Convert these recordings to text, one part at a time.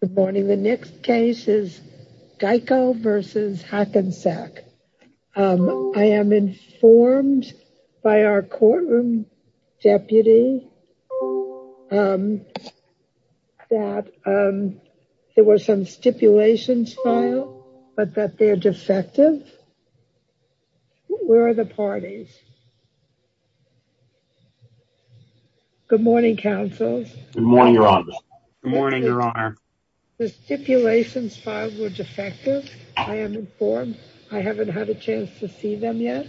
Good morning. The next case is Geico versus Hackensack. I am informed by our courtroom deputy that there were some stipulations filed but that they're defective. Where are the parties? Good morning, counsels. Good morning, your honor. The stipulations filed were defective. I am informed. I haven't had a chance to see them yet,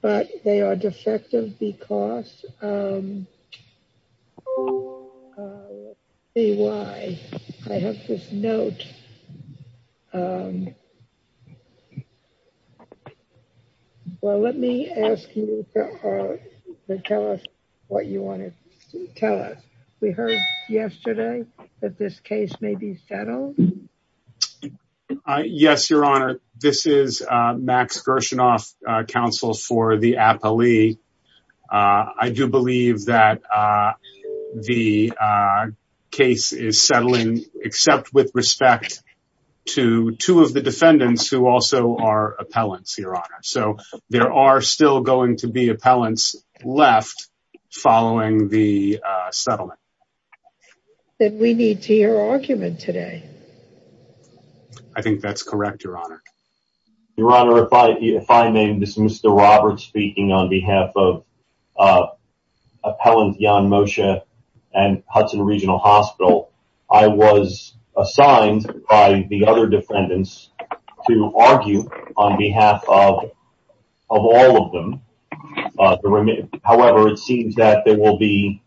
but they are defective because let me see why. I have this note. Well, let me ask you to tell us what you want to tell us. We heard yesterday that this case may be settled? Yes, your honor. This is Max Gershinoff, counsel for the appellee. I do believe that the case is settling except with respect to two of the defendants who also are appellants, your honor. So there are still going to be appellants left following the settlement. Then we need to hear your argument today. I think that's correct, your honor. Your honor, if I may dismiss the Roberts speaking on behalf of Appellant Jan Moshe and Hudson Regional Hospital. I was assigned by the other defendants to argue on behalf of all of them. However, it seems that there will be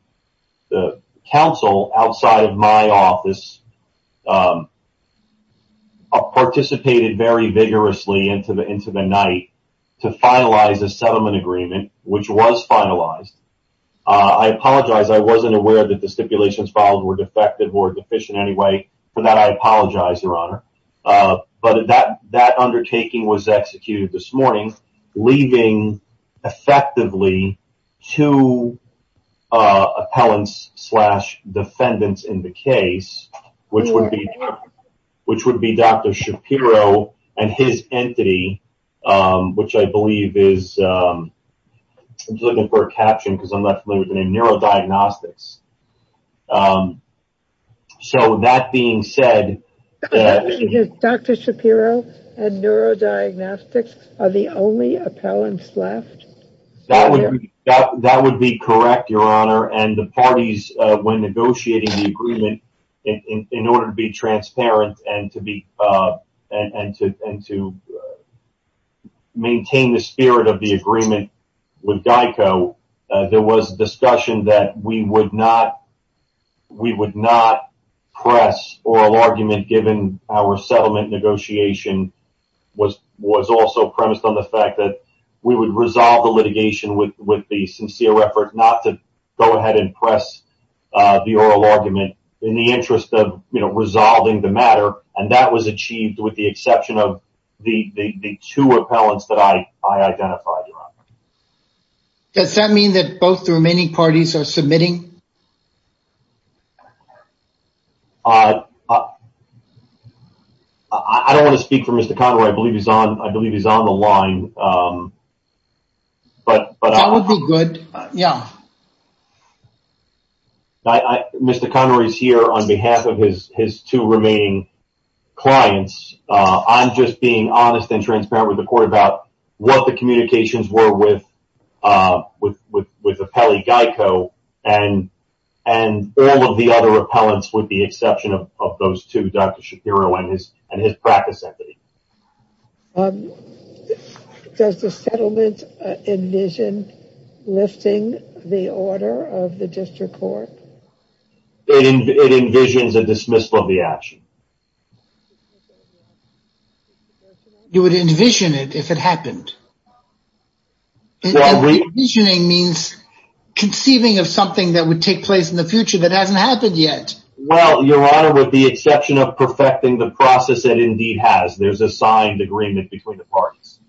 the counsel outside of my office who participated very vigorously into the night to finalize the settlement agreement, which was finalized. I apologize. I wasn't aware that the stipulations filed were defective or deficient anyway. For that, I apologize, your honor. But that undertaking was executed this morning, leaving effectively two appellants slash defendants in the case, which would be which would be Dr. Shapiro and his entity, which I believe is looking for a caption because I'm not familiar with the neurodiagnostics. So that being said, Dr. Shapiro and neurodiagnostics are the only appellants left. That would be correct, your honor. And the parties, when negotiating the agreement in order to be transparent and to be and to and to maintain the spirit of the agreement with Geico, there was discussion that we would not we would not press oral argument, given our settlement negotiation was was also premised on the fact that we would resolve the litigation. With the sincere effort not to go ahead and press the oral argument in the interest of resolving the matter. And that was achieved with the exception of the two appellants that I identified. Does that mean that both the remaining parties are submitting? I don't want to speak for Mr. Conroy. I believe he's on. I believe he's on the line. That would be good. Yeah. Mr. Conroy is here on behalf of his his two remaining clients. I'm just being honest and transparent with the court about what the communications were with with with with Appelli Geico and and all of the other appellants with the exception of those two, Dr. Shapiro and his and his practice entity. Um, does the settlement envision lifting the order of the district court? It envisions a dismissal of the action. You would envision it if it happened. Envisioning means conceiving of something that would take place in the future that hasn't happened yet. Well, Your Honor, with the exception of perfecting the process that indeed has, there's a signed agreement between the parties.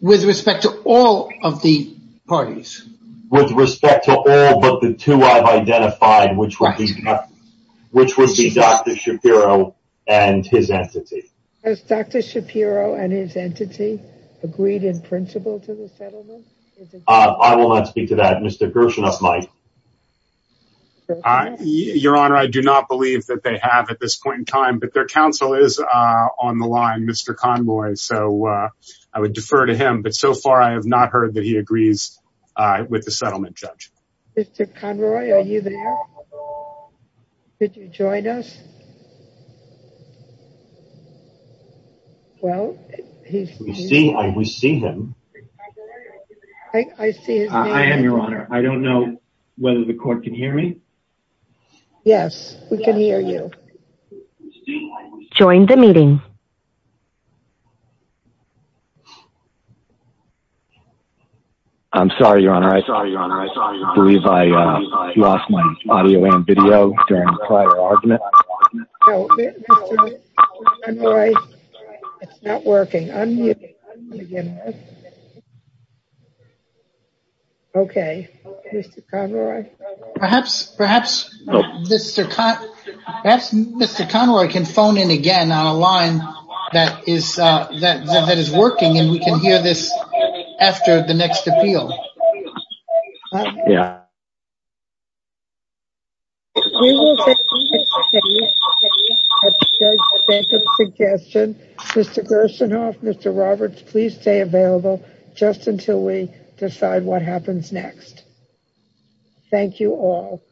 With respect to all of the parties? With respect to all but the two I've identified, which would be which would be Dr. Shapiro and his entity. Has Dr. Shapiro and his entity agreed in principle to the settlement? I will not speak to that. Mr. Gershenoff might. I, Your Honor, I do not believe that they have at this point in time, but their counsel is on the line, Mr. Conroy. So I would defer to him. But so far, I have not heard that he agrees with the settlement judge. Mr. Conroy, are you there? Could you join us? Well, we see him. I see him. I am, Your Honor. I don't know whether the court can hear me. Yes, we can hear you. Join the meeting. I'm sorry, Your Honor. I believe I lost my audio and video during the prior argument. It's not working. Okay, Mr. Conroy. Perhaps, perhaps Mr. Conroy can phone in again on a line that is that is working and we can hear this after the next appeal. Yeah. We will continue to stay at the judge's suggestion. Mr. Gershenoff, Mr. Roberts, please stay available just until we decide what happens next. Thank you all.